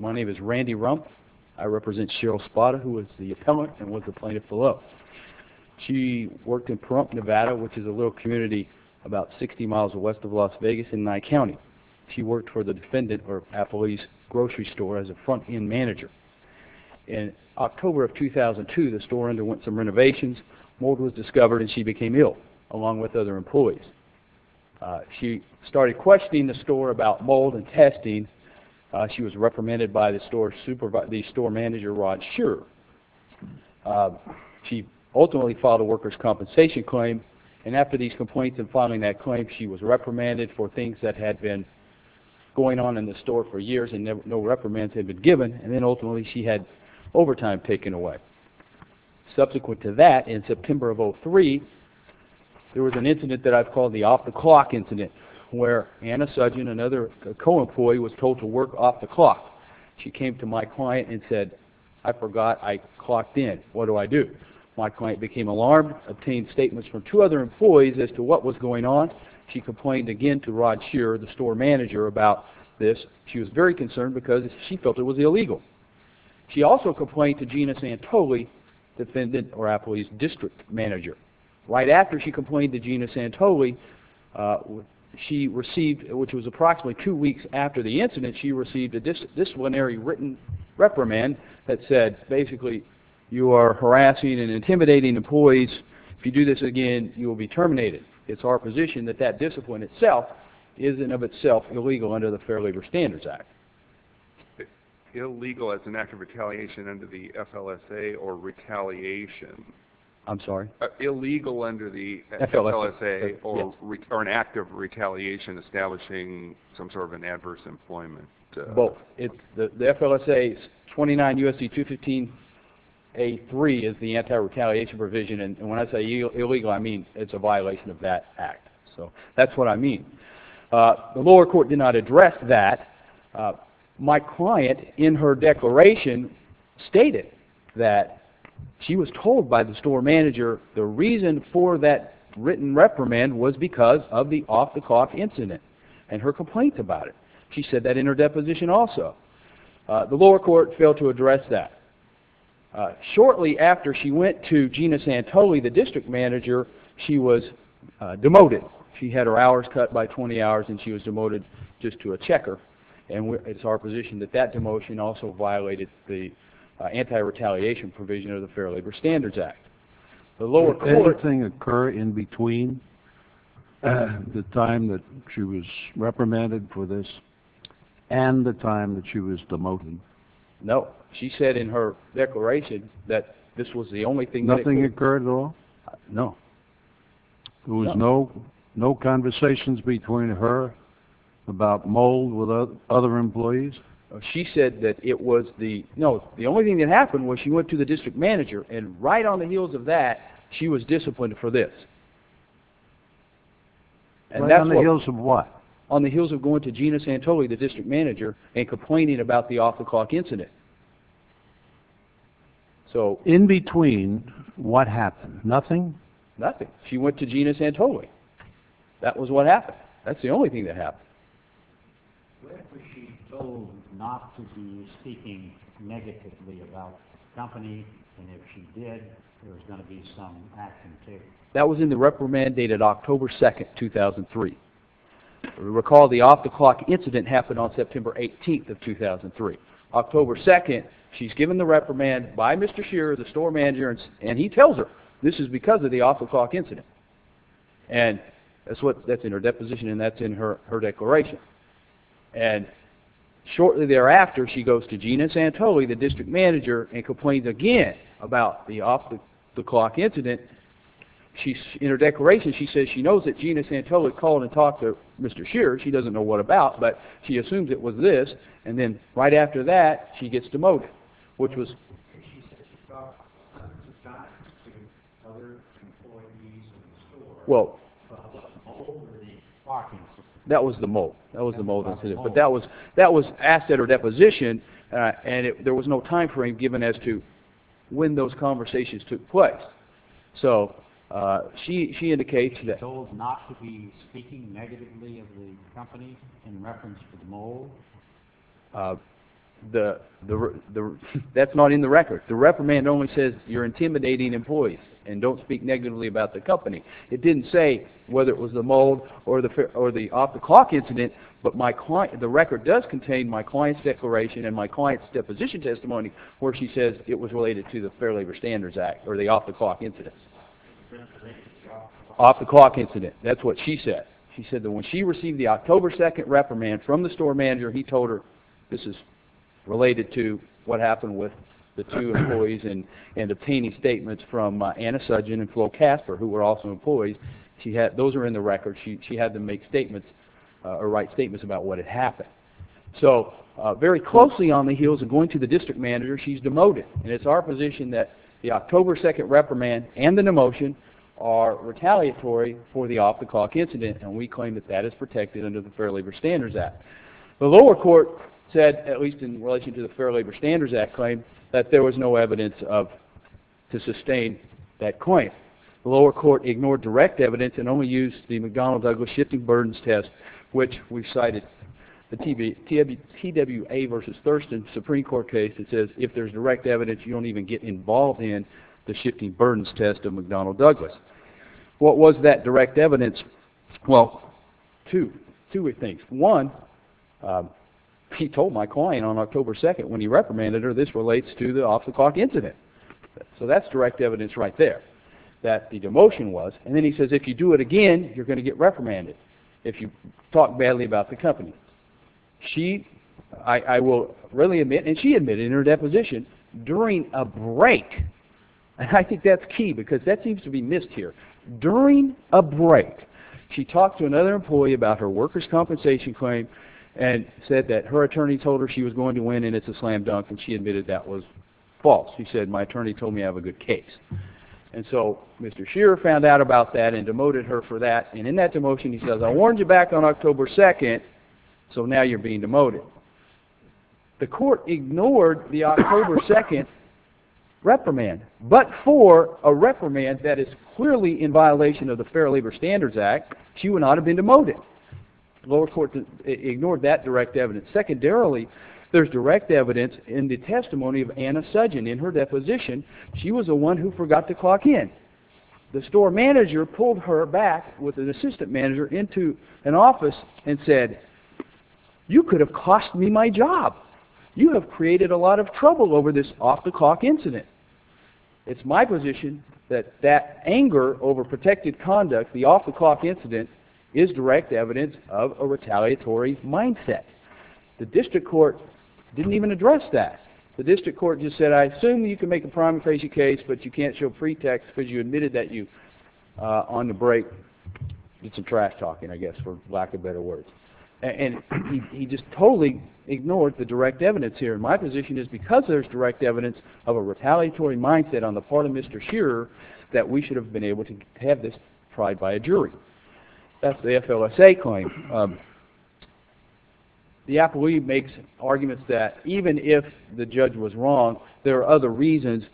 My name is Randy Rump. I represent Cheryl Spata, who is the appellant and was the plaintiff below. She worked in Pahrump, Nevada, which is a little community about 60 miles west of Las Vegas in Nye County. She worked for the Defendant or Appellee's Grocery Store as a front-end manager. In October of 2002, the store underwent some renovations. Mold was discovered and she became ill, along with other employees. She started questioning the store about mold and testing. She was reprimanded by the store manager, Rod Scherer. She ultimately filed a worker's compensation claim, and after these complaints and filing that claim, she was reprimanded for things that had been going on in the store for years and no reprimands had been given, and then ultimately she had overtime taken away. Subsequent to that, in September of 2003, there was an incident that I've called the off-the-clock incident, where Anna Sudgen, another co-employee, was told to work off the clock. She came to my client and said, I forgot I clocked in. What do I do? My client became alarmed, obtained statements from two other employees as to what was going on. She complained again to Rod Scherer, the store manager, about this. She was very concerned because she felt it was illegal. She also complained to Gina Santoli, Defendant or Appellee's District Manager. Right after she complained to Gina Santoli, she received, which was approximately two weeks after the incident, she received a disciplinary written reprimand that said, basically, you are harassing and intimidating employees. If you do this again, you will be terminated. It's our position that that discipline itself is, in and of itself, illegal under the Fair Labor Standards Act. Illegal as an act of retaliation under the FLSA or retaliation? I'm sorry? Illegal under the FLSA or an act of retaliation establishing some sort of an adverse employment? Both. The FLSA's 29 U.S.C. 215A3 is the anti-retaliation provision. When I say illegal, I mean it's a violation of that act. That's what I mean. The lower court did not address that. My client, in her declaration, stated that she was told by the store manager the reason for that written reprimand was because of the off-the-clock incident and her complaints about it. She said that in her deposition also. The lower court failed to address that. Shortly after she went to Gina Santoli, the district manager, she was demoted. She had her hours cut by 20 hours and she was demoted just to a checker. It's our position that that demotion also violated the anti-retaliation provision of the Fair Labor Standards Act. Did anything occur in between the time that she was reprimanded for this? And the time that she was demoted? No. She said in her declaration that this was the only thing that... Nothing occurred at all? No. There was no conversations between her about mold with other employees? She said that it was the... No, the only thing that happened was she went to the district manager and right on the heels of that, she was disciplined for this. And that's what... Right on the heels of what? On the heels of going to Gina Santoli, the district manager, and complaining about the off-the-clock incident. So in between, what happened? Nothing? Nothing. She went to Gina Santoli. That was what happened. That's the only thing that happened. Where was she told not to be speaking negatively about the company? And if she did, there was going to be some action taken? That was in the reprimand dated October 2nd, 2003. Recall the off-the-clock incident happened on September 18th of 2003. October 2nd, she's given the reprimand by Mr. Shearer, the store manager, and he tells her, this is because of the off-the-clock incident. And that's in her deposition and that's in her declaration. And shortly thereafter, she goes to Gina Santoli, the district manager, and complains again about the off-the-clock incident. In her declaration, she says she knows that Gina Santoli called and talked to Mr. Shearer. She doesn't know what about, but she assumes it was this. And then right after that, she gets demoted, which was... She said she talked to other employees in the store about the mold in the box. That was the mold. That was the mold incident. But that was asked at her deposition and there was no time frame given as to when those conversations took place. So she indicates that... Told not to be speaking negatively of the company in reference to the mold? That's not in the record. The reprimand only says you're intimidating employees and don't speak negatively about the company. It didn't say whether it was the mold or the off-the-clock incident, but my client... The record does contain my client's declaration and my client's deposition testimony where she says it was related to the Fair Labor Standards Act or the off-the-clock incident. Off-the-clock incident. That's what she said. She said that when she received the October 2nd reprimand from the store manager, he told her this is related to what happened with the two employees and obtaining statements from Anna Sudgen and Flo Casper, who were also employees. Those are in the record. She had them make statements or write statements about what had happened. So very closely on the heels of going to the district manager, she's demoted, and it's our position that the October 2nd reprimand and the demotion are retaliatory for the off-the-clock incident, and we claim that that is protected under the Fair Labor Standards Act. The lower court said, at least in relation to the Fair Labor Standards Act claim, that there was no evidence to sustain that claim. The lower court ignored direct evidence and only used the McDonnell-Douglas shifting burdens test, which we've cited the TWA versus Thurston Supreme Court case that says if there's direct evidence, you don't even get involved in the shifting burdens test of McDonnell-Douglas. What was that direct evidence? Well, two things. One, he told my client on October 2nd when he reprimanded her, this relates to the off-the-clock incident. So that's direct evidence right there that the demotion was, and then he says if you do it again, you're going to get reprimanded if you talk badly about the company. I will readily admit, and she admitted in her deposition, during a break, and I think that's key because that seems to be missed here, during a break, she talked to another employee about her workers' compensation claim and said that her attorney told her she was going to win and it's a slam dunk, and she admitted that was false. She admitted that was false, and so Mr. Shearer found out about that and demoted her for that, and in that demotion he says I warned you back on October 2nd, so now you're being demoted. The court ignored the October 2nd reprimand, but for a reprimand that is clearly in violation of the Fair Labor Standards Act, she would not have been demoted. The lower court ignored that direct evidence. Secondarily, there's direct evidence in the testimony of Anna Sudgen. In her deposition, she was the one who forgot to clock in. The store manager pulled her back with an assistant manager into an office and said, you could have cost me my job. You have created a lot of trouble over this off-the-clock incident. It's my position that that anger over protected conduct, the off-the-clock incident, is direct evidence of a retaliatory mindset. The district court didn't even address that. The district court just said I assume you can make a promiscuous case, but you can't show pretext because you admitted that you, on the break, did some trash talking, I guess, for lack of better words, and he just totally ignored the direct evidence here, and my position is because there's direct evidence of a retaliatory mindset on the part of Mr. Shearer that we should have been able to have this tried by a jury. That's the FLSA claim. The appellee makes arguments that even if the judge was wrong, there are other reasons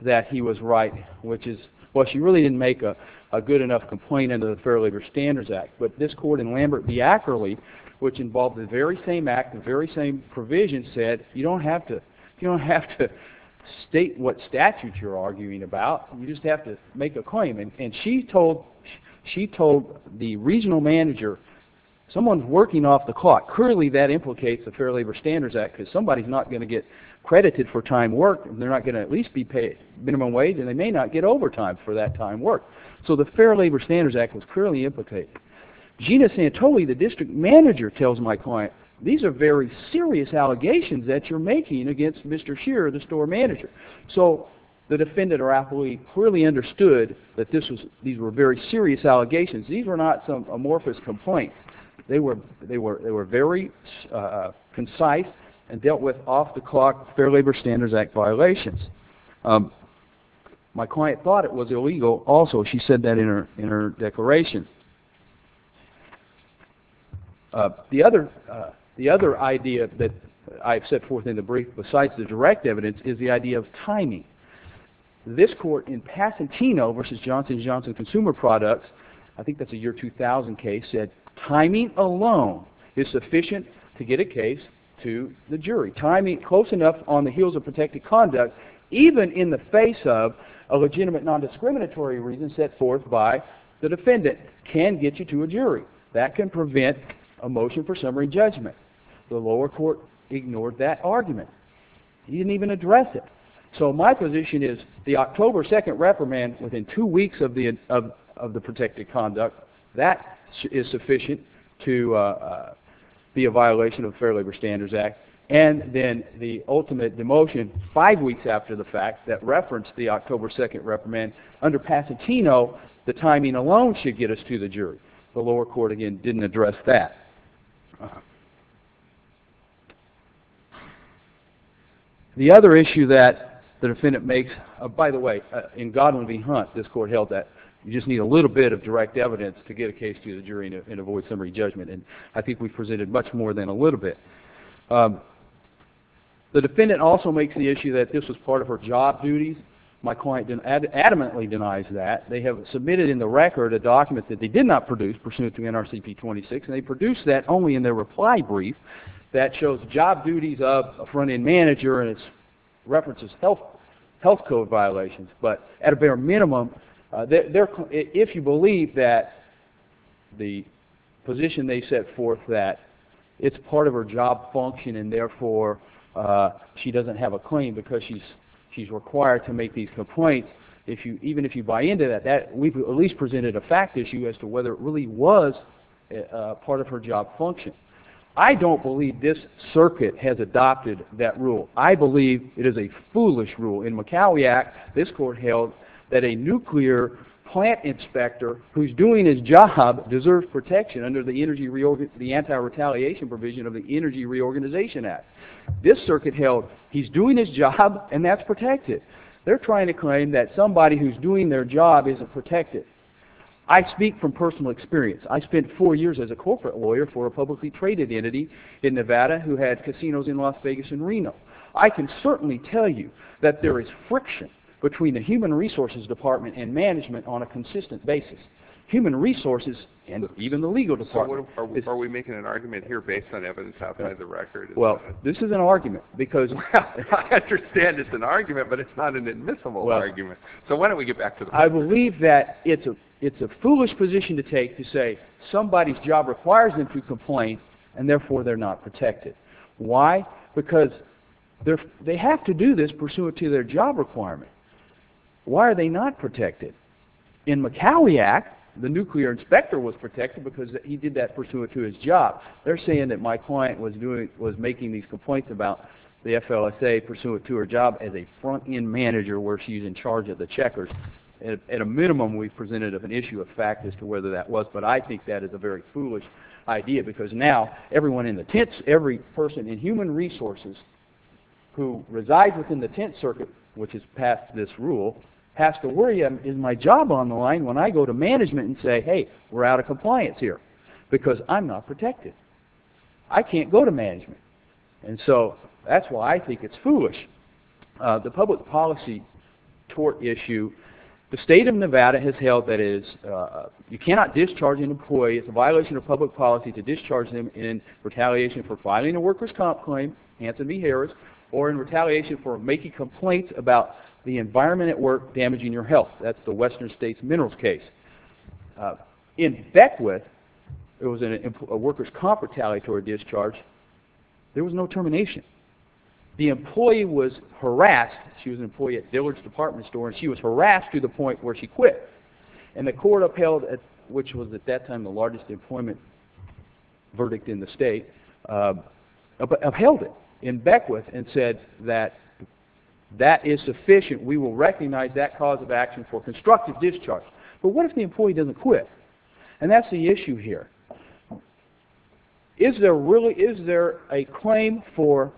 that he was right, which is, well, she really didn't make a good enough complaint under the Fair Labor Standards Act, but this court in Lambert v. Ackerley, which involved the very same act, the very same provision, said you don't have to state what statutes you're arguing about. You just have to make a claim, and she told the regional manager, someone's working off the clock. Clearly, that implicates the Fair Labor Standards Act because somebody's not going to get credited for time worked, and they're not going to at least be paid minimum wage, and they may not get overtime for that time worked, so the Fair Labor Standards Act was clearly implicated. Gina Santoli, the district manager, tells my client, these are very serious allegations that you're making against Mr. Shearer, the store manager, so the defendant or appellee clearly understood that these were very serious allegations. These were not some amorphous complaints. They were very concise and dealt with off the clock Fair Labor Standards Act violations. My client thought it was illegal also. She said that in her declaration. The other idea that I've set forth in the brief besides the direct evidence is the idea of timing. This court in Pasatino v. Johnson & Johnson Consumer Products, I think that's a year 2000 case, said timing alone is sufficient to get a case to the jury. Timing close enough on the heels of protected conduct, even in the face of a legitimate nondiscriminatory reason set forth by the defendant, can get you to a jury. That can prevent a motion for that argument. He didn't even address it. So my position is the October 2nd reprimand within 2 weeks of the protected conduct, that is sufficient to be a violation of the Fair Labor Standards Act and then the ultimate demotion 5 weeks after the fact that referenced the October 2nd reprimand under Pasatino, the timing alone should get us to the jury. The lower court, again, didn't address that. The other issue that the defendant makes, by the way, in Godwin v. Hunt this court held that you just need a little bit of direct evidence to get a case to the jury and avoid summary judgment. I think we presented much more than a little bit. The defendant also makes the issue that this was part of her job duties. My client adamantly denies that. They have submitted in the record a document that they did not produce pursuant to NRCP 26 and they produced that only in their reply brief that shows job duties of a front end manager and it references health code violations. But at a bare minimum, if you believe that the position they set forth that it's part of her job function and therefore she doesn't have a claim because she's required to make these complaints, even if you buy into that, we've at least presented a fact issue as to whether it really was part of her job function. I don't believe this circuit has adopted that rule. I believe it is a foolish rule. In Macaulay Act, this court held that a nuclear plant inspector who's doing his job deserves protection under the anti-retaliation provision of the Energy Reorganization Act. This circuit held he's doing his job and that's protected. They're trying to claim that somebody who's doing their job isn't protected. I speak from personal experience. I spent four years as a corporate lawyer for a publicly traded entity in Nevada who had casinos in Las Vegas and Reno. I can certainly tell you that there is friction between the human resources department and management on a consistent basis. Human resources and even the legal department. Are we making an argument here based on evidence outside the record? Well, this is an argument because... I understand it's an argument, but it's not an admissible argument. So why don't we get back to the point? I believe that it's a foolish position to take to say somebody's job requires them to complain and therefore they're not protected. Why? Because they have to do this pursuant to their job requirement. Why are they not protected? In Macaulay Act, the nuclear inspector was protected because he did that pursuant to his job. They're saying that my client was making these complaints about the FLSA pursuant to her job as a front-end manager where she's in charge of the checkers. At a minimum, we've presented an issue of fact as to whether that was, but I think that is a very foolish idea because now everyone in the tents, every person in human resources who resides within the tent circuit, which is past this rule, has to worry, is my job on the line when I go to management and say, hey, we're out of compliance here because I'm not protected. I can't go to management. And so that's why I think it's foolish. The public policy tort issue, the state of Nevada has held that it is, you cannot discharge an employee, it's a violation of public policy to discharge them in retaliation for filing a workers' comp claim, Hanson v. Harris, or in retaliation for making complaints about the environment at work damaging your health. That's the Western States Minerals case. In Beckwith, it was a workers' comp retaliatory discharge. There was no termination. The employee was harassed. She was an employee at Dillard's Department Store, and she was harassed to the point where she quit. And the court upheld, which was at that time the largest employment verdict in the state, upheld it in Beckwith and said that that is sufficient. We will recognize that cause of action for constructive discharge. But what if the employee doesn't quit? And that's the issue here. Is there really, is there a claim for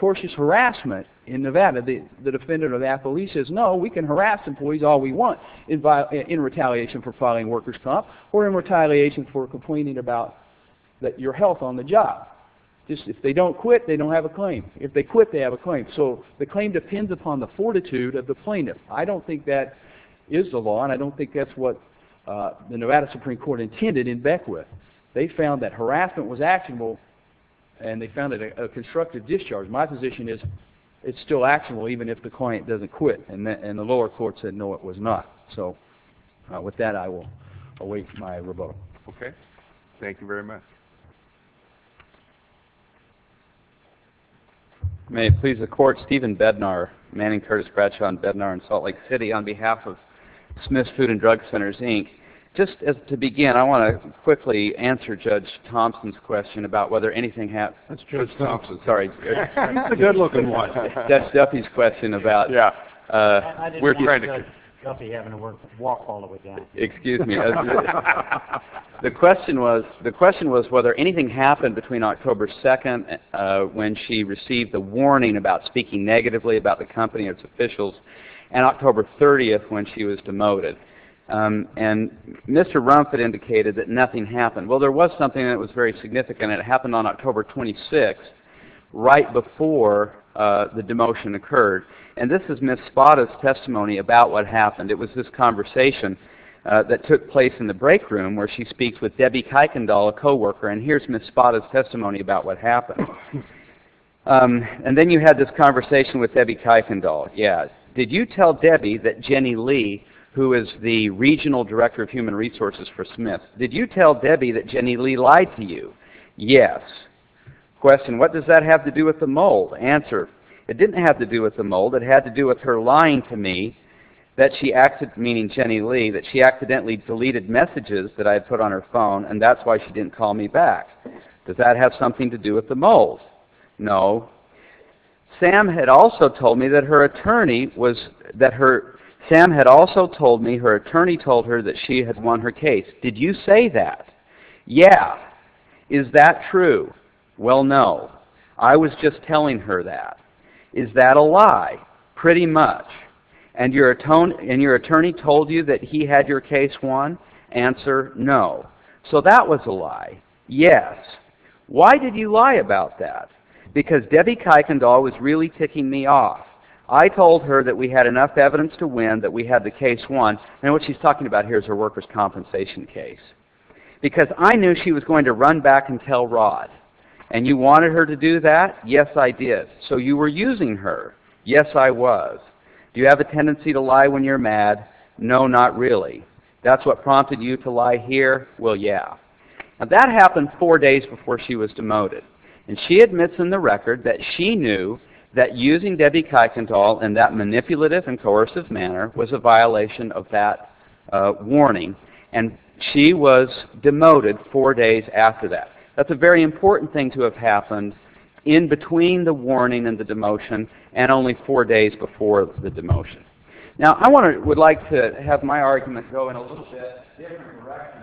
tortious harassment in Nevada? The defendant of that police says, no, we can harass employees all we want in retaliation for filing workers' comp or in retaliation for complaining about your health on the job. If they don't quit, they don't have a claim. If they quit, they don't have a claim. So the claim depends upon the fortitude of the plaintiff. I don't think that is the law, and I don't think that's what the Nevada Supreme Court intended in Beckwith. They found that harassment was actionable, and they found it a constructive discharge. My position is it's still actionable even if the client doesn't quit. And the lower court said, no, it was not. So with that, I will await my rebuttal. Okay. Thank you very much. May it please the Court, Stephen Bednar, Manning Curtis Bradshaw and Bednar in Salt Lake City on behalf of Smith's Food and Drug Centers, Inc. Just to begin, I want to quickly answer Judge Thompson's question about whether anything happened. That's Judge Thompson. Sorry. He's the good-looking one. That's Duffy's question about... Yeah. We're trying to... I didn't like Judge Duffy having to walk all the way down. Excuse me. The question was whether anything happened between October 2nd, when she received a warning about speaking negatively about the company and its officials, and October 30th, when she was demoted. And Mr. Rumpf had indicated that nothing happened. Well, there was something that was very significant. It happened on October 26th, right before the demotion occurred. And this is Ms. Spada's testimony about what happened. It was this conversation that took place in the break room, where she speaks with Debbie Kuykendall, a co-worker. And here's Ms. Spada's testimony about what happened. And then you had this conversation with Debbie Kuykendall. Yes. Did you tell Debbie that Jenny Lee, who is the Regional Director of Human Resources for Smith, did you tell Debbie that Jenny Lee lied to you? Yes. Question, what does that have to do with the mole? Answer, it didn't have to do with the mole. It had to do with her lying to me, meaning Jenny Lee, that she accidentally deleted messages that I had put on her phone, and that's why she didn't call me back. Does that have something to do with the mole? No. Sam had also told me that her attorney told her that she had won her case. Did you say that? Yeah. Is that true? Well, no. I was just telling her that. Is that a lie? Pretty much. And your attorney told you that he had your case won? Answer, no. So that was a lie. Yes. Why did you lie about that? Because Debbie Kuykendall was really ticking me off. I told her that we had enough evidence to win, that we had the case won. And what she's talking about here is her workers' compensation case. Because I knew she was going to run back and tell Rod. And you wanted her to do that? Yes, I did. So you were using her? Yes, I was. Do you have a tendency to lie when you're mad? No, not really. That's what prompted you to lie here? Well, yeah. Now, that happened four days before she was demoted. And she admits in the record that she knew that using Debbie Kuykendall in that manipulative and coercive manner was a violation of that warning. And she was demoted four days after that. That's a very important thing to have happened in between the warning and the demotion, and only four days before the demotion. Now, I would like to have my argument go in a little bit different direction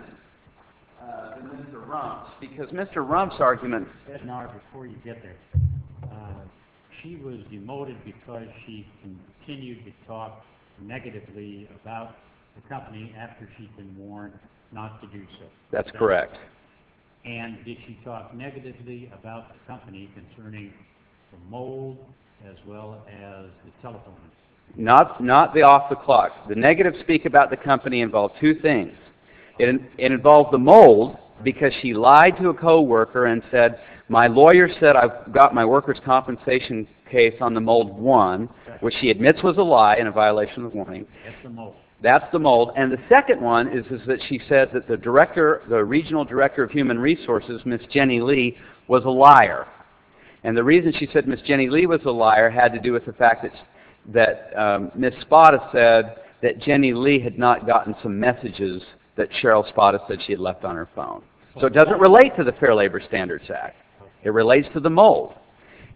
than Mr. Rump's. Because Mr. Rump's argument... Did she talk negatively about the company after she'd been warned not to do so? That's correct. And did she talk negatively about the company concerning the mold as well as the telephone? Not the off-the-clock. The negative speak about the company involved two things. It involved the mold, because she lied to a co-worker and said, My lawyer said I've got my workers' compensation case on the mold one, which she admits was a lie and a violation of the warning. That's the mold. That's the mold. And the second one is that she said that the regional director of human resources, Miss Jenny Lee, was a liar. And the reason she said Miss Jenny Lee was a liar had to do with the fact that Miss Spada said that Jenny Lee had not gotten some messages that Cheryl Spada said she had left on her phone. So it doesn't relate to the Fair Labor Standards Act. It relates to the mold.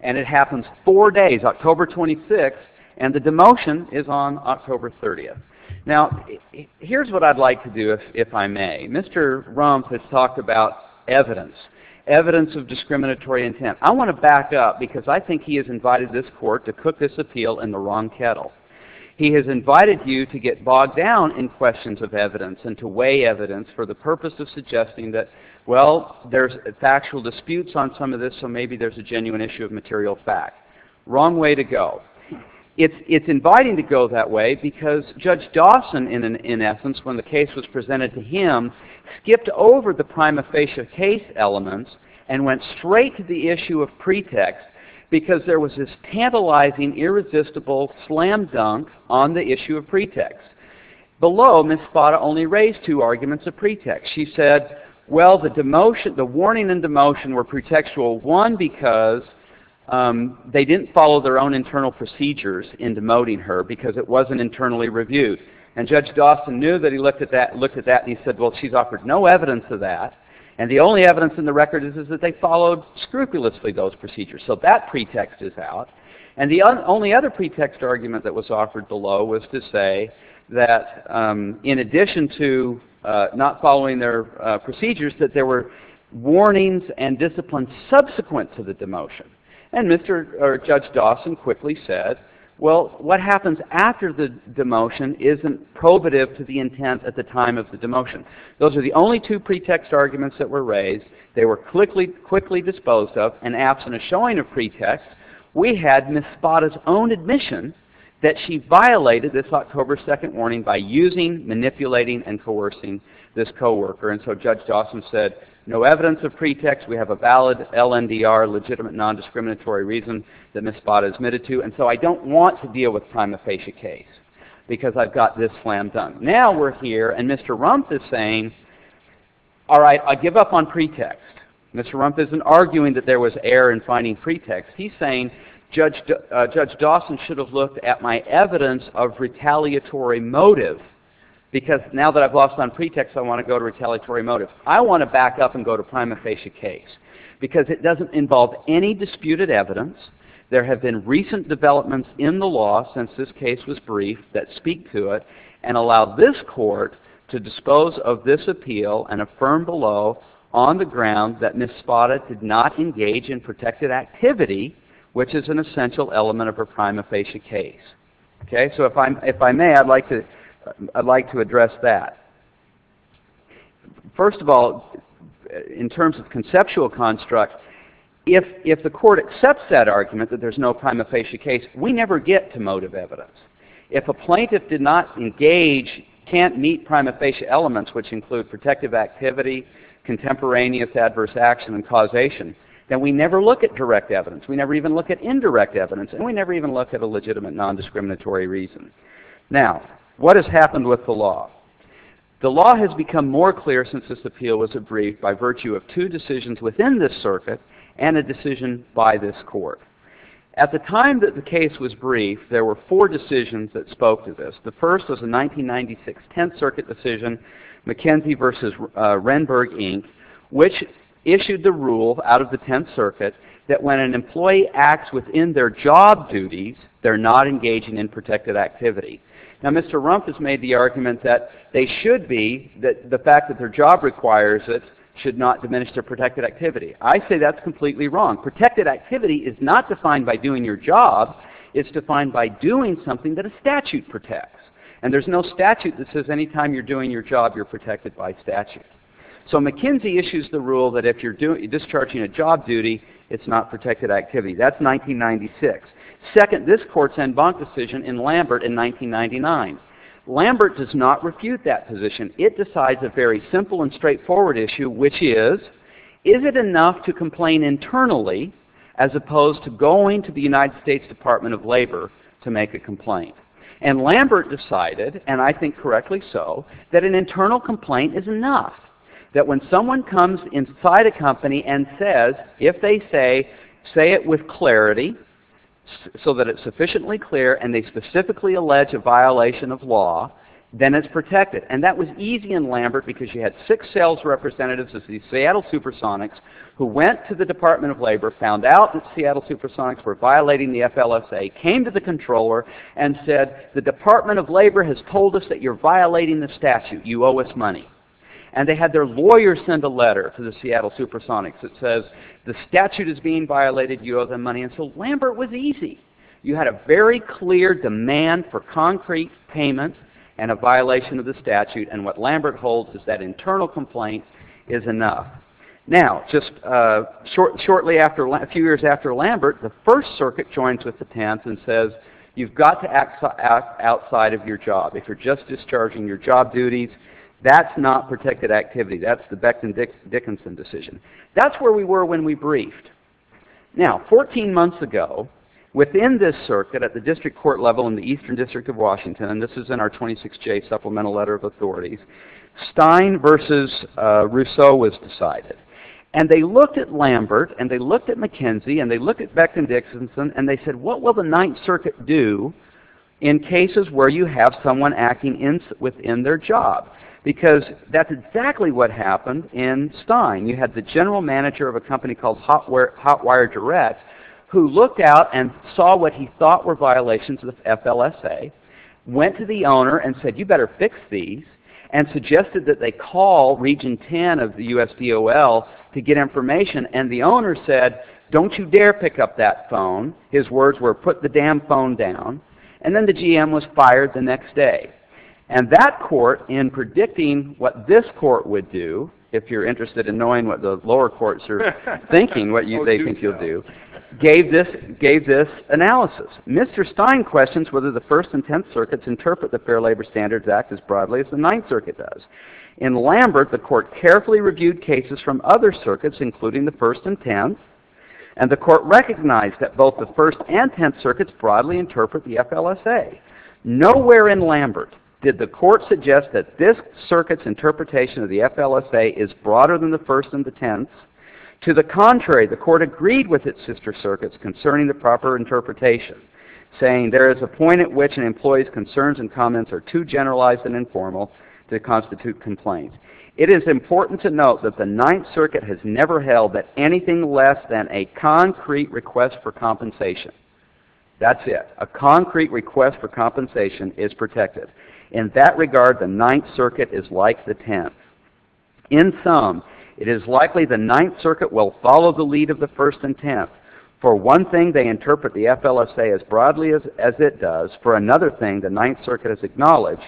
And it happens four days, October 26, and the demotion is on October 30. Now, here's what I'd like to do, if I may. Mr. Rump has talked about evidence. Evidence of discriminatory intent. I want to back up, because I think he has invited this court to cook this appeal in the wrong kettle. He has invited you to get bogged down in questions of evidence and to weigh evidence for the purpose of suggesting that, well, there's factual disputes on some of this, so maybe there's a genuine issue of material fact. Wrong way to go. It's inviting to go that way because Judge Dawson, in essence, when the case was presented to him, skipped over the prima facie case elements and went straight to the issue of pretext because there was this tantalizing, irresistible slam dunk on the issue of pretext. Below, Ms. Spada only raised two arguments of pretext. She said, well, the warning and demotion were pretextual, one, because they didn't follow their own internal procedures in demoting her, because it wasn't internally reviewed. And Judge Dawson knew that he looked at that and he said, well, she's offered no evidence of that. And the only evidence in the record is that they followed scrupulously those procedures. So that pretext is out. And the only other pretext argument that was offered below was to say that in addition to not following their procedures, that there were warnings and disciplines subsequent to the demotion. And Judge Dawson quickly said, well, what happens after the demotion isn't probative to the intent at the time of the demotion. Those are the only two pretext arguments that were raised. They were quickly disposed of, and absent a showing of pretext, we had Ms. Spada's own admission that she violated this October 2nd warning by using, manipulating, and coercing this co-worker. And so Judge Dawson said, no evidence of pretext. We have a valid LNDR, legitimate nondiscriminatory reason, that Ms. Spada admitted to. And so I don't want to deal with prima facie case, because I've got this slam dunk. Now we're here, and Mr. Rumpf is saying, all right, I give up on pretext. Mr. Rumpf isn't arguing that there was error in finding pretext. He's saying Judge Dawson should have looked at my evidence of retaliatory motive, because now that I've lost on pretext, I want to go to retaliatory motive. I want to back up and go to prima facie case, because it doesn't involve any disputed evidence. There have been recent developments in the law since this case was briefed that speak to it, and allow this court to dispose of this appeal and affirm below, on the ground, that Ms. Spada did not engage in protected activity, which is an essential element of her prima facie case. So if I may, I'd like to address that. First of all, in terms of conceptual construct, if the court accepts that argument, that there's no prima facie case, we never get to motive evidence. If a plaintiff did not engage, can't meet prima facie elements, which include protective activity, contemporaneous adverse action and causation, then we never look at direct evidence. We never even look at indirect evidence, and we never even look at a legitimate non-discriminatory reason. Now, what has happened with the law? The law has become more clear since this appeal was briefed by virtue of two decisions within this circuit, and a decision by this court. At the time that the case was briefed, there were four decisions that spoke to this. The first was a 1996 Tenth Circuit decision, McKenzie v. Renberg, Inc., which issued the rule out of the Tenth Circuit that when an employee acts within their job duties, they're not engaging in protected activity. Now, Mr. Rumpf has made the argument that they should be, that the fact that their job requires it should not diminish their protected activity. I say that's completely wrong. Protected activity is not defined by doing your job. It's defined by doing something that a statute protects. And there's no statute that says any time you're doing your job, you're protected by statute. So McKenzie issues the rule that if you're discharging a job duty, it's not protected activity. That's 1996. Second, this court's en banc decision in Lambert in 1999. Lambert does not refute that position. It decides a very simple and straightforward issue, which is, is it enough to complain internally as opposed to going to the United States Department of Labor to make a complaint? And Lambert decided, and I think correctly so, that an internal complaint is enough. That when someone comes inside a company and says, if they say, say it with clarity, so that it's sufficiently clear, and they specifically allege a violation of law, then it's protected. And that was easy in Lambert because you had six sales representatives of the Seattle Supersonics who went to the Department of Labor, found out that Seattle Supersonics were violating the FLSA, came to the controller, and said, the Department of Labor has told us that you're violating the statute. You owe us money. And they had their lawyer send a letter to the Seattle Supersonics that says the statute is being violated, you owe them money. And so Lambert was easy. You had a very clear demand for concrete payment and a violation of the statute. And what Lambert holds is that internal complaint is enough. Now, just shortly after, a few years after Lambert, the First Circuit joins with the Tants and says, you've got to act outside of your job. If you're just discharging your job duties, that's not protected activity. That's the Becton-Dickinson decision. That's where we were when we briefed. Now, 14 months ago, within this circuit, at the district court level in the Eastern District of Washington, this is in our 26J Supplemental Letter of Authorities, Stein versus Rousseau was decided. And they looked at Lambert, and they looked at McKenzie, and they looked at Becton-Dickinson, and they said, what will the Ninth Circuit do in cases where you have someone acting within their job? Because that's exactly what happened in Stein. You had the general manager of a company called Hotwire Direct, who looked out and saw what he thought were violations of FLSA, went to the owner and said, you better fix these, and suggested that they call Region 10 of the USDOL to get information. And the owner said, don't you dare pick up that phone. His words were, put the damn phone down. And then the GM was fired the next day. And that court, in predicting what this court would do, if you're interested in knowing what the lower courts are thinking, what they think you'll do, gave this analysis. Mr. Stein questions whether the First and Tenth Circuits interpret the Fair Labor Standards Act as broadly as the Ninth Circuit does. In Lambert, the court carefully reviewed cases from other circuits, including the First and Tenth, and the court recognized that both the First and Tenth Circuits broadly interpret the FLSA. Nowhere in Lambert did the court suggest that this circuit's interpretation of the FLSA is broader than the First and the Tenth's. To the contrary, the court agreed with its sister circuits concerning the proper interpretation, saying there is a point at which an employee's concerns and comments are too generalized and informal to constitute complaints. It is important to note that the Ninth Circuit has never held that anything less than a concrete request for compensation. That's it. A concrete request for compensation is protected. In that regard, the Ninth Circuit is like the Tenth. In sum, it is likely the Ninth Circuit will follow the lead of the First and Tenth For one thing, they interpret the FLSA as broadly as it does. For another thing, the Ninth Circuit has acknowledged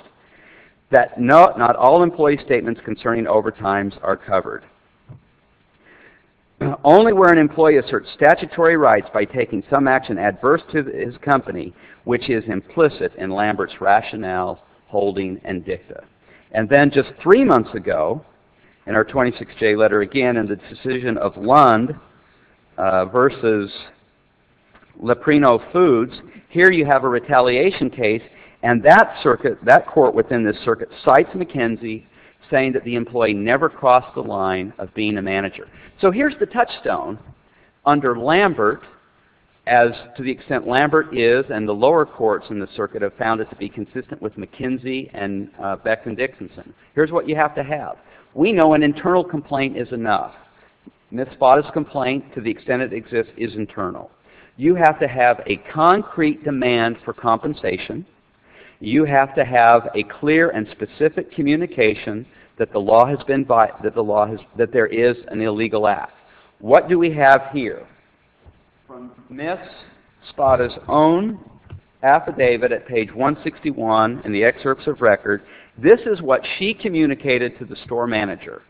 that not all employee statements concerning overtimes are covered. Only where an employee asserts statutory rights by taking some action adverse to his company, which is implicit in Lambert's rationale, holding, and dicta. And then, just three months ago, in our 26-J letter, again in the decision of Lund, versus Leprino Foods, here you have a retaliation case and that circuit, that court within this circuit, cites McKinsey saying that the employee never crossed the line of being a manager. So here's the touchstone. Under Lambert, as to the extent Lambert is, and the lower courts in the circuit have found it to be consistent with McKinsey and Beckman-Dixon. Here's what you have to have. We know an internal complaint is enough. Ms. Spada's complaint, to the extent it exists, is internal. You have to have a concrete demand for compensation. You have to have a clear and specific communication that there is an illegal act. What do we have here? From Ms. Spada's own affidavit at page 161 in the excerpts of record, this is what she communicated to the store manager.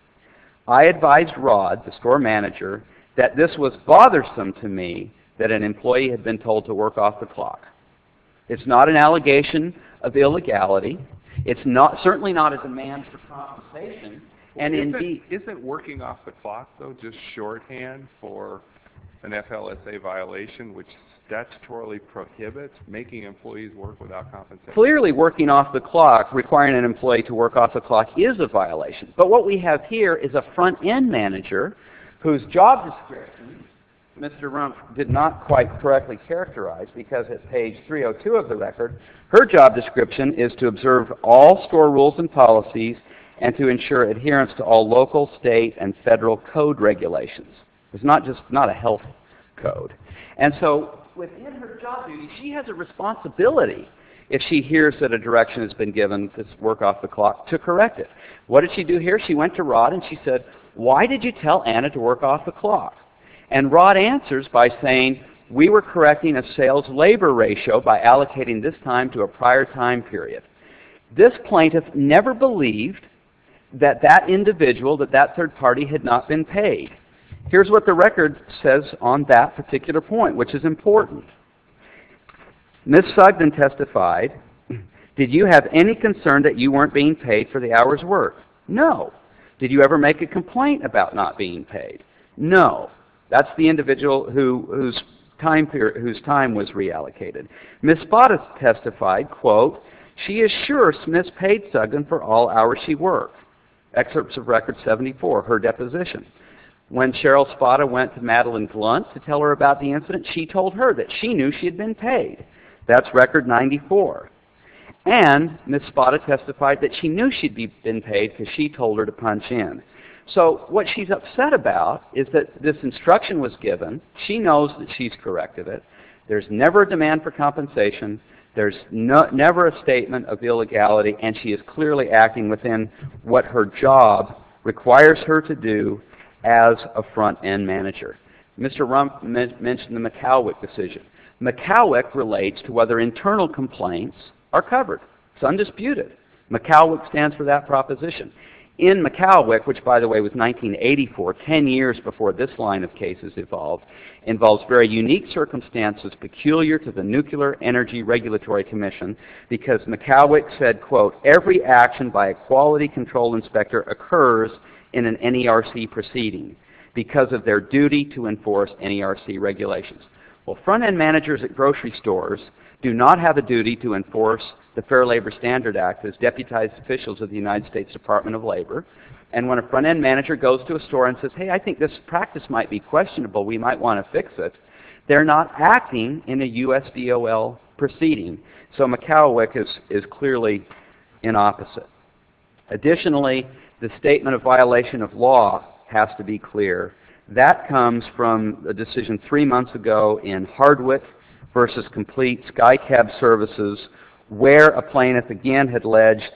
I advised Rod, the store manager, that this was bothersome to me that an employee had been told to work off the clock. It's not an allegation of illegality. It's certainly not a demand for compensation. Isn't working off the clock, though, just shorthand for an FLSA violation, which statutorily prohibits making employees work without compensation? Clearly, working off the clock, requiring an employee to work off the clock is a violation. But what we have here is a front-end manager whose job description Mr. Rumpf did not quite correctly characterize because at page 302 of the record, her job description is to observe all store rules and policies and to ensure adherence to all local, state, and federal code regulations. It's not just a health code. And so, within her job duty, she has a responsibility if she hears that a direction has been given to work off the clock to correct it. What did she do here? She went to Rod and she said, why did you tell Anna to work off the clock? And Rod answers by saying, we were correcting a sales-labor ratio by allocating this time to a prior time period. This plaintiff never believed that that individual, that that third party, had not been paid. Here's what the record says on that particular point, which is important. Ms. Sugden testified, Did you have any concern that you weren't being paid for the hours worked? No. Did you ever make a complaint about not being paid? No. That's the individual whose time was reallocated. Ms. Spada testified, She is sure Smith paid Sugden for all hours she worked. Excerpts of Record 74, her deposition. When Cheryl Spada went to Madeline Glunt to tell her about the incident, she told her that she knew she had been paid. That's Record 94. And Ms. Spada testified that she knew she'd been paid because she told her to punch in. So what she's upset about is that this instruction was given, she knows that she's corrected it, there's never a demand for compensation, there's never a statement of illegality, and she is clearly acting within what her job requires her to do as a front-end manager. Mr. Rumpf mentioned the McCowick decision. McCowick relates to whether internal complaints are covered. It's undisputed. McCowick stands for that proposition. In McCowick, which by the way was 1984, 10 years before this line of cases evolved, involves very unique circumstances, peculiar to the Nuclear Energy Regulatory Commission, because McCowick said, Every action by a quality control inspector occurs in an NERC proceeding because of their duty to enforce NERC regulations. Well, front-end managers at grocery stores do not have a duty to enforce the Fair Labor Standard Act as deputized officials of the United States Department of Labor, and when a front-end manager goes to a store and says, Hey, I think this practice might be questionable, we might want to fix it, they're not acting in a USDOL proceeding. So McCowick is clearly in opposite. Additionally, the statement of violation of law has to be clear. That comes from a decision three months ago in Hardwick v. Complete Sky Cab Services, where a plaintiff again had alleged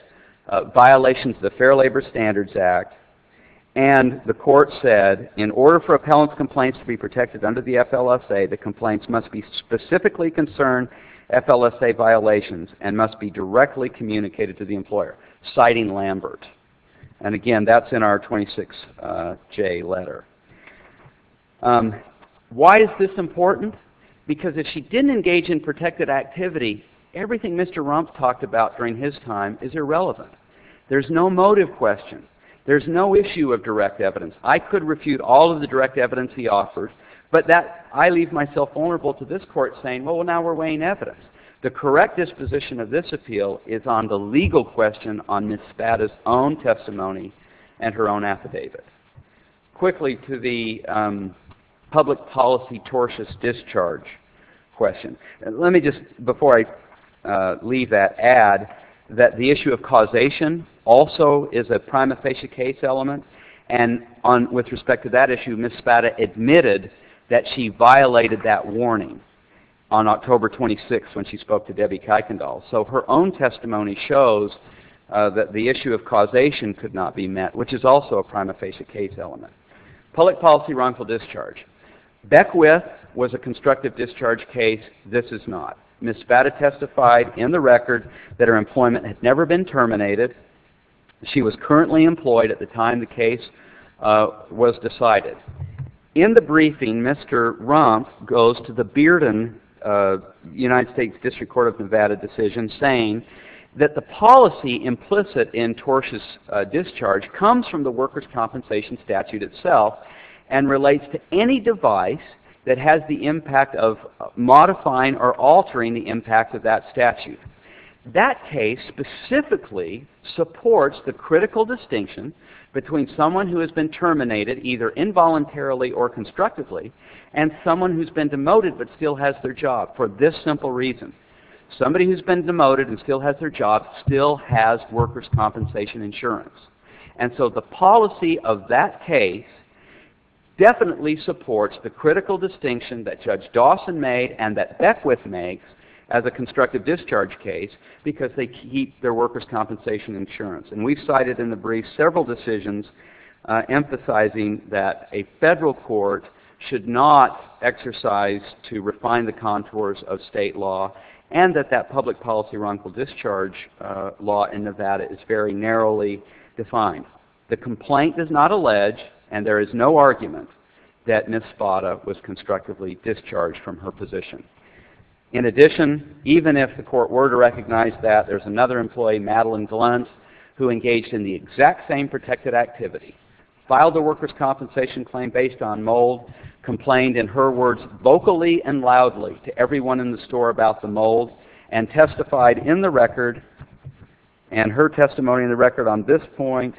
violations of the Fair Labor Standards Act, and the court said, In order for appellant's complaints to be protected under the FLSA, the complaints must be specifically concerned FLSA violations and must be directly communicated to the employer, citing Lambert. And again, that's in our 26J letter. Why is this important? Because if she didn't engage in protected activity, everything Mr. Rumpf talked about during his time is irrelevant. There's no motive question. There's no issue of direct evidence. I could refute all of the direct evidence he offers, but I leave myself vulnerable to this court saying, Well, now we're weighing evidence. The correct disposition of this appeal is on the legal question on Ms. Spada's own testimony and her own affidavit. Quickly to the public policy tortious discharge question. Let me just, before I leave that, add that the issue of causation also is a prima facie case element, and with respect to that issue, Ms. Spada admitted that she violated that warning on October 26th when she spoke to Debbie Kuykendall. So her own testimony shows that the issue of causation could not be met, which is also a prima facie case element. Public policy wrongful discharge. Beckwith was a constructive discharge case. This is not. Ms. Spada testified in the record that her employment had never been terminated. She was currently employed at the time the case was decided. In the briefing, Mr. Rumpf goes to the Bearden, United States District Court of Nevada decision saying that the policy implicit in tortious discharge comes from the workers' compensation statute itself and relates to any device that has the impact of modifying or altering the impact of that statute. That case specifically supports the critical distinction between someone who has been terminated, either involuntarily or constructively, and someone who's been demoted but still has their job for this simple reason. Somebody who's been demoted and still has their job still has workers' compensation insurance. And so the policy of that case definitely supports the critical distinction that Judge Dawson made and that Beckwith made as a constructive discharge case because they keep their workers' compensation insurance. And we cited in the brief several decisions emphasizing that a federal court should not exercise to refine the contours of state law and that that public policy wrongful discharge law in Nevada is very narrowly defined. The complaint does not allege, and there is no argument, that Ms. Spada was constructively discharged from her position. In addition, even if the court were to recognize that, there's another employee, Madeline Glenn, who engaged in the exact same protected activity, filed a workers' compensation claim based on mold, complained in her words vocally and loudly to everyone in the store about the mold, and testified in the record, and her testimony in the record on this point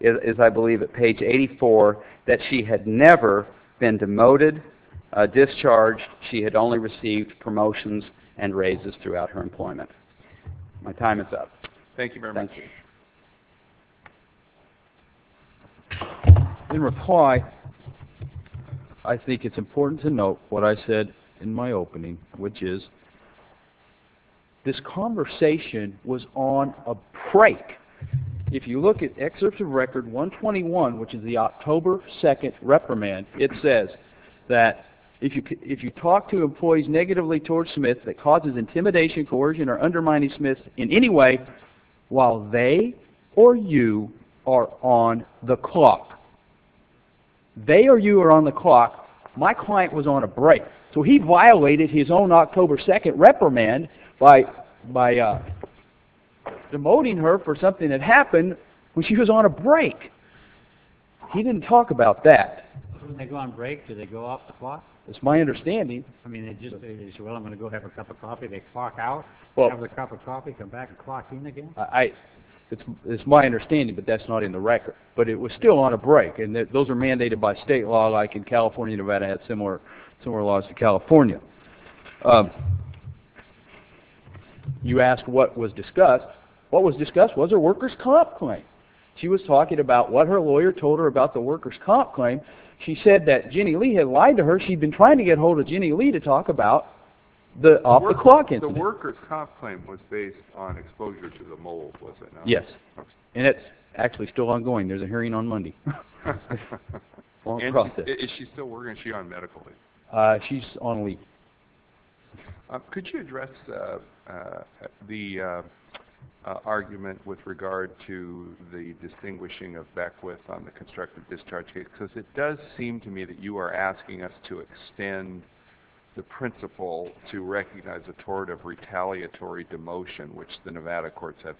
is, I believe, at page 84, that she had never been demoted, discharged. She had only received promotions and raises throughout her employment. My time is up. Thank you very much. In reply, I think it's important to note what I said in my opening, which is this conversation was on a break. If you look at excerpts of Record 121, which is the October 2nd reprimand, it says that if you talk to employees negatively towards Smith that causes intimidation, coercion, or undermining Smith in any way, while they or you are on the clock. They or you are on the clock. My client was on a break. So he violated his own October 2nd reprimand by demoting her for something that happened when she was on a break. He didn't talk about that. When they go on break, do they go off the clock? It's my understanding. They say, well, I'm going to go have a cup of coffee. They clock out, have a cup of coffee, come back and clock in again. It's my understanding, but that's not in the record. But it was still on a break, and those are mandated by state law, like in California, Nevada has similar laws to California. You asked what was discussed. What was discussed was her worker's comp claim. She was talking about what her lawyer told her about the worker's comp claim. She said that Ginny Lee had lied to her. She'd been trying to get ahold of Ginny Lee to talk about the off-the-clock incident. So the worker's comp claim was based on exposure to the mold, was it not? Yes. And it's actually still ongoing. There's a hearing on Monday. Is she still working? Is she on medical leave? She's on leave. Could you address the argument with regard to the distinguishing of Beckwith on the constructive discharge case? Because it does seem to me that you are asking us to extend the principle to recognize a tort of retaliatory demotion, which the Nevada courts have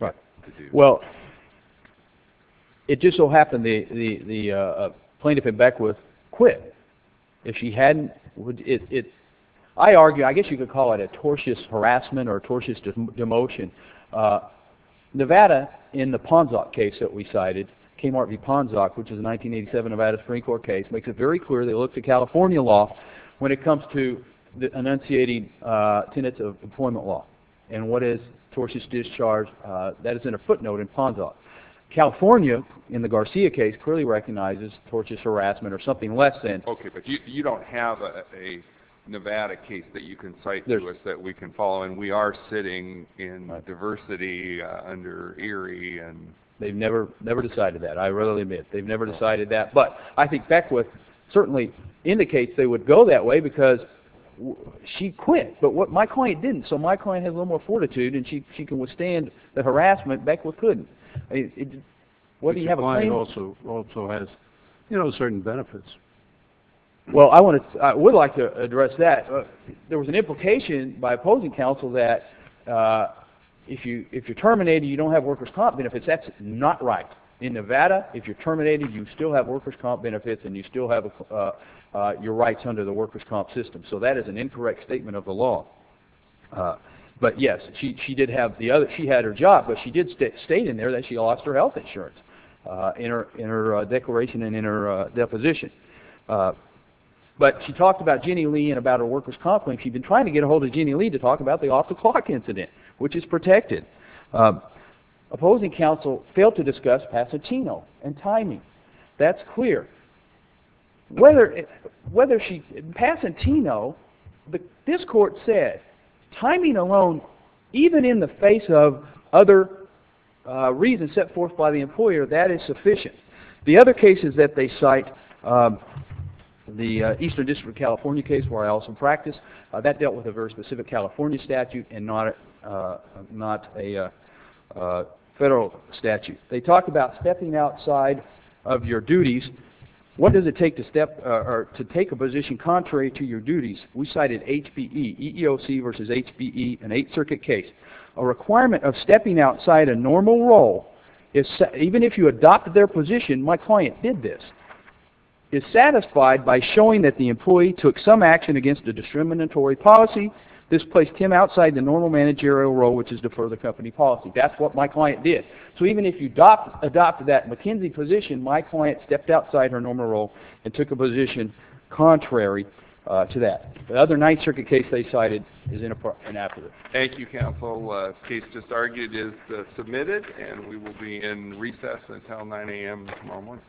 yet to do. Right. Well, it just so happened the plaintiff in Beckwith quit. If she hadn't... I argue, I guess you could call it a tortious harassment or a tortious demotion. Nevada, in the Ponzoc case that we cited, Kmart v. Ponzoc, which is a 1987 Nevada Supreme Court case, makes it very clear they look to California law when it comes to enunciating tenets of employment law and what is tortious discharge that is in a footnote in Ponzoc. California, in the Garcia case, clearly recognizes tortious harassment or something less than... Okay, but you don't have a Nevada case that you can cite to us that we can follow, and we are sitting in diversity under Erie and... They've never decided that. I readily admit they've never decided that. But I think Beckwith certainly indicates they would go that way because she quit, but my client didn't, so my client has a little more fortitude and she can withstand the harassment. Beckwith couldn't. But your client also has certain benefits. Well, I would like to address that. There was an implication by opposing counsel that if you're terminated, you don't have workers' comp benefits. That's not right. In Nevada, if you're terminated, you still have workers' comp benefits and you still have your rights under the workers' comp system, so that is an incorrect statement of the law. But yes, she did have the other... She had her job, but she did state in there that she lost her health insurance in her declaration and in her deposition. But she talked about Jenny Lee and about her workers' comp claim. She'd been trying to get ahold of Jenny Lee to talk about the off-the-clock incident, which is protected. Opposing counsel failed to discuss Pasatino and timing. That's clear. Whether she... In Pasatino, this court said timing alone, even in the face of other reasons set forth by the employer, that is sufficient. The other cases that they cite, the Eastern District of California case where I also practice, that dealt with a very specific California statute and not a federal statute. They talk about stepping outside of your duties. What does it take to take a position contrary to your duties? We cited HPE, EEOC versus HPE, an Eighth Circuit case. A requirement of stepping outside a normal role, even if you adopted their position, my client did this, is satisfied by showing that the employee took some action against a discriminatory policy. This placed him outside the normal managerial role, which is to defer the company policy. That's what my client did. So even if you adopted that McKenzie position, my client stepped outside her normal role and took a position contrary to that. The other Ninth Circuit case they cited is inappropriate. Thank you, counsel. The case just argued is submitted and we will be in recess until 9 a.m. tomorrow morning. Thank you.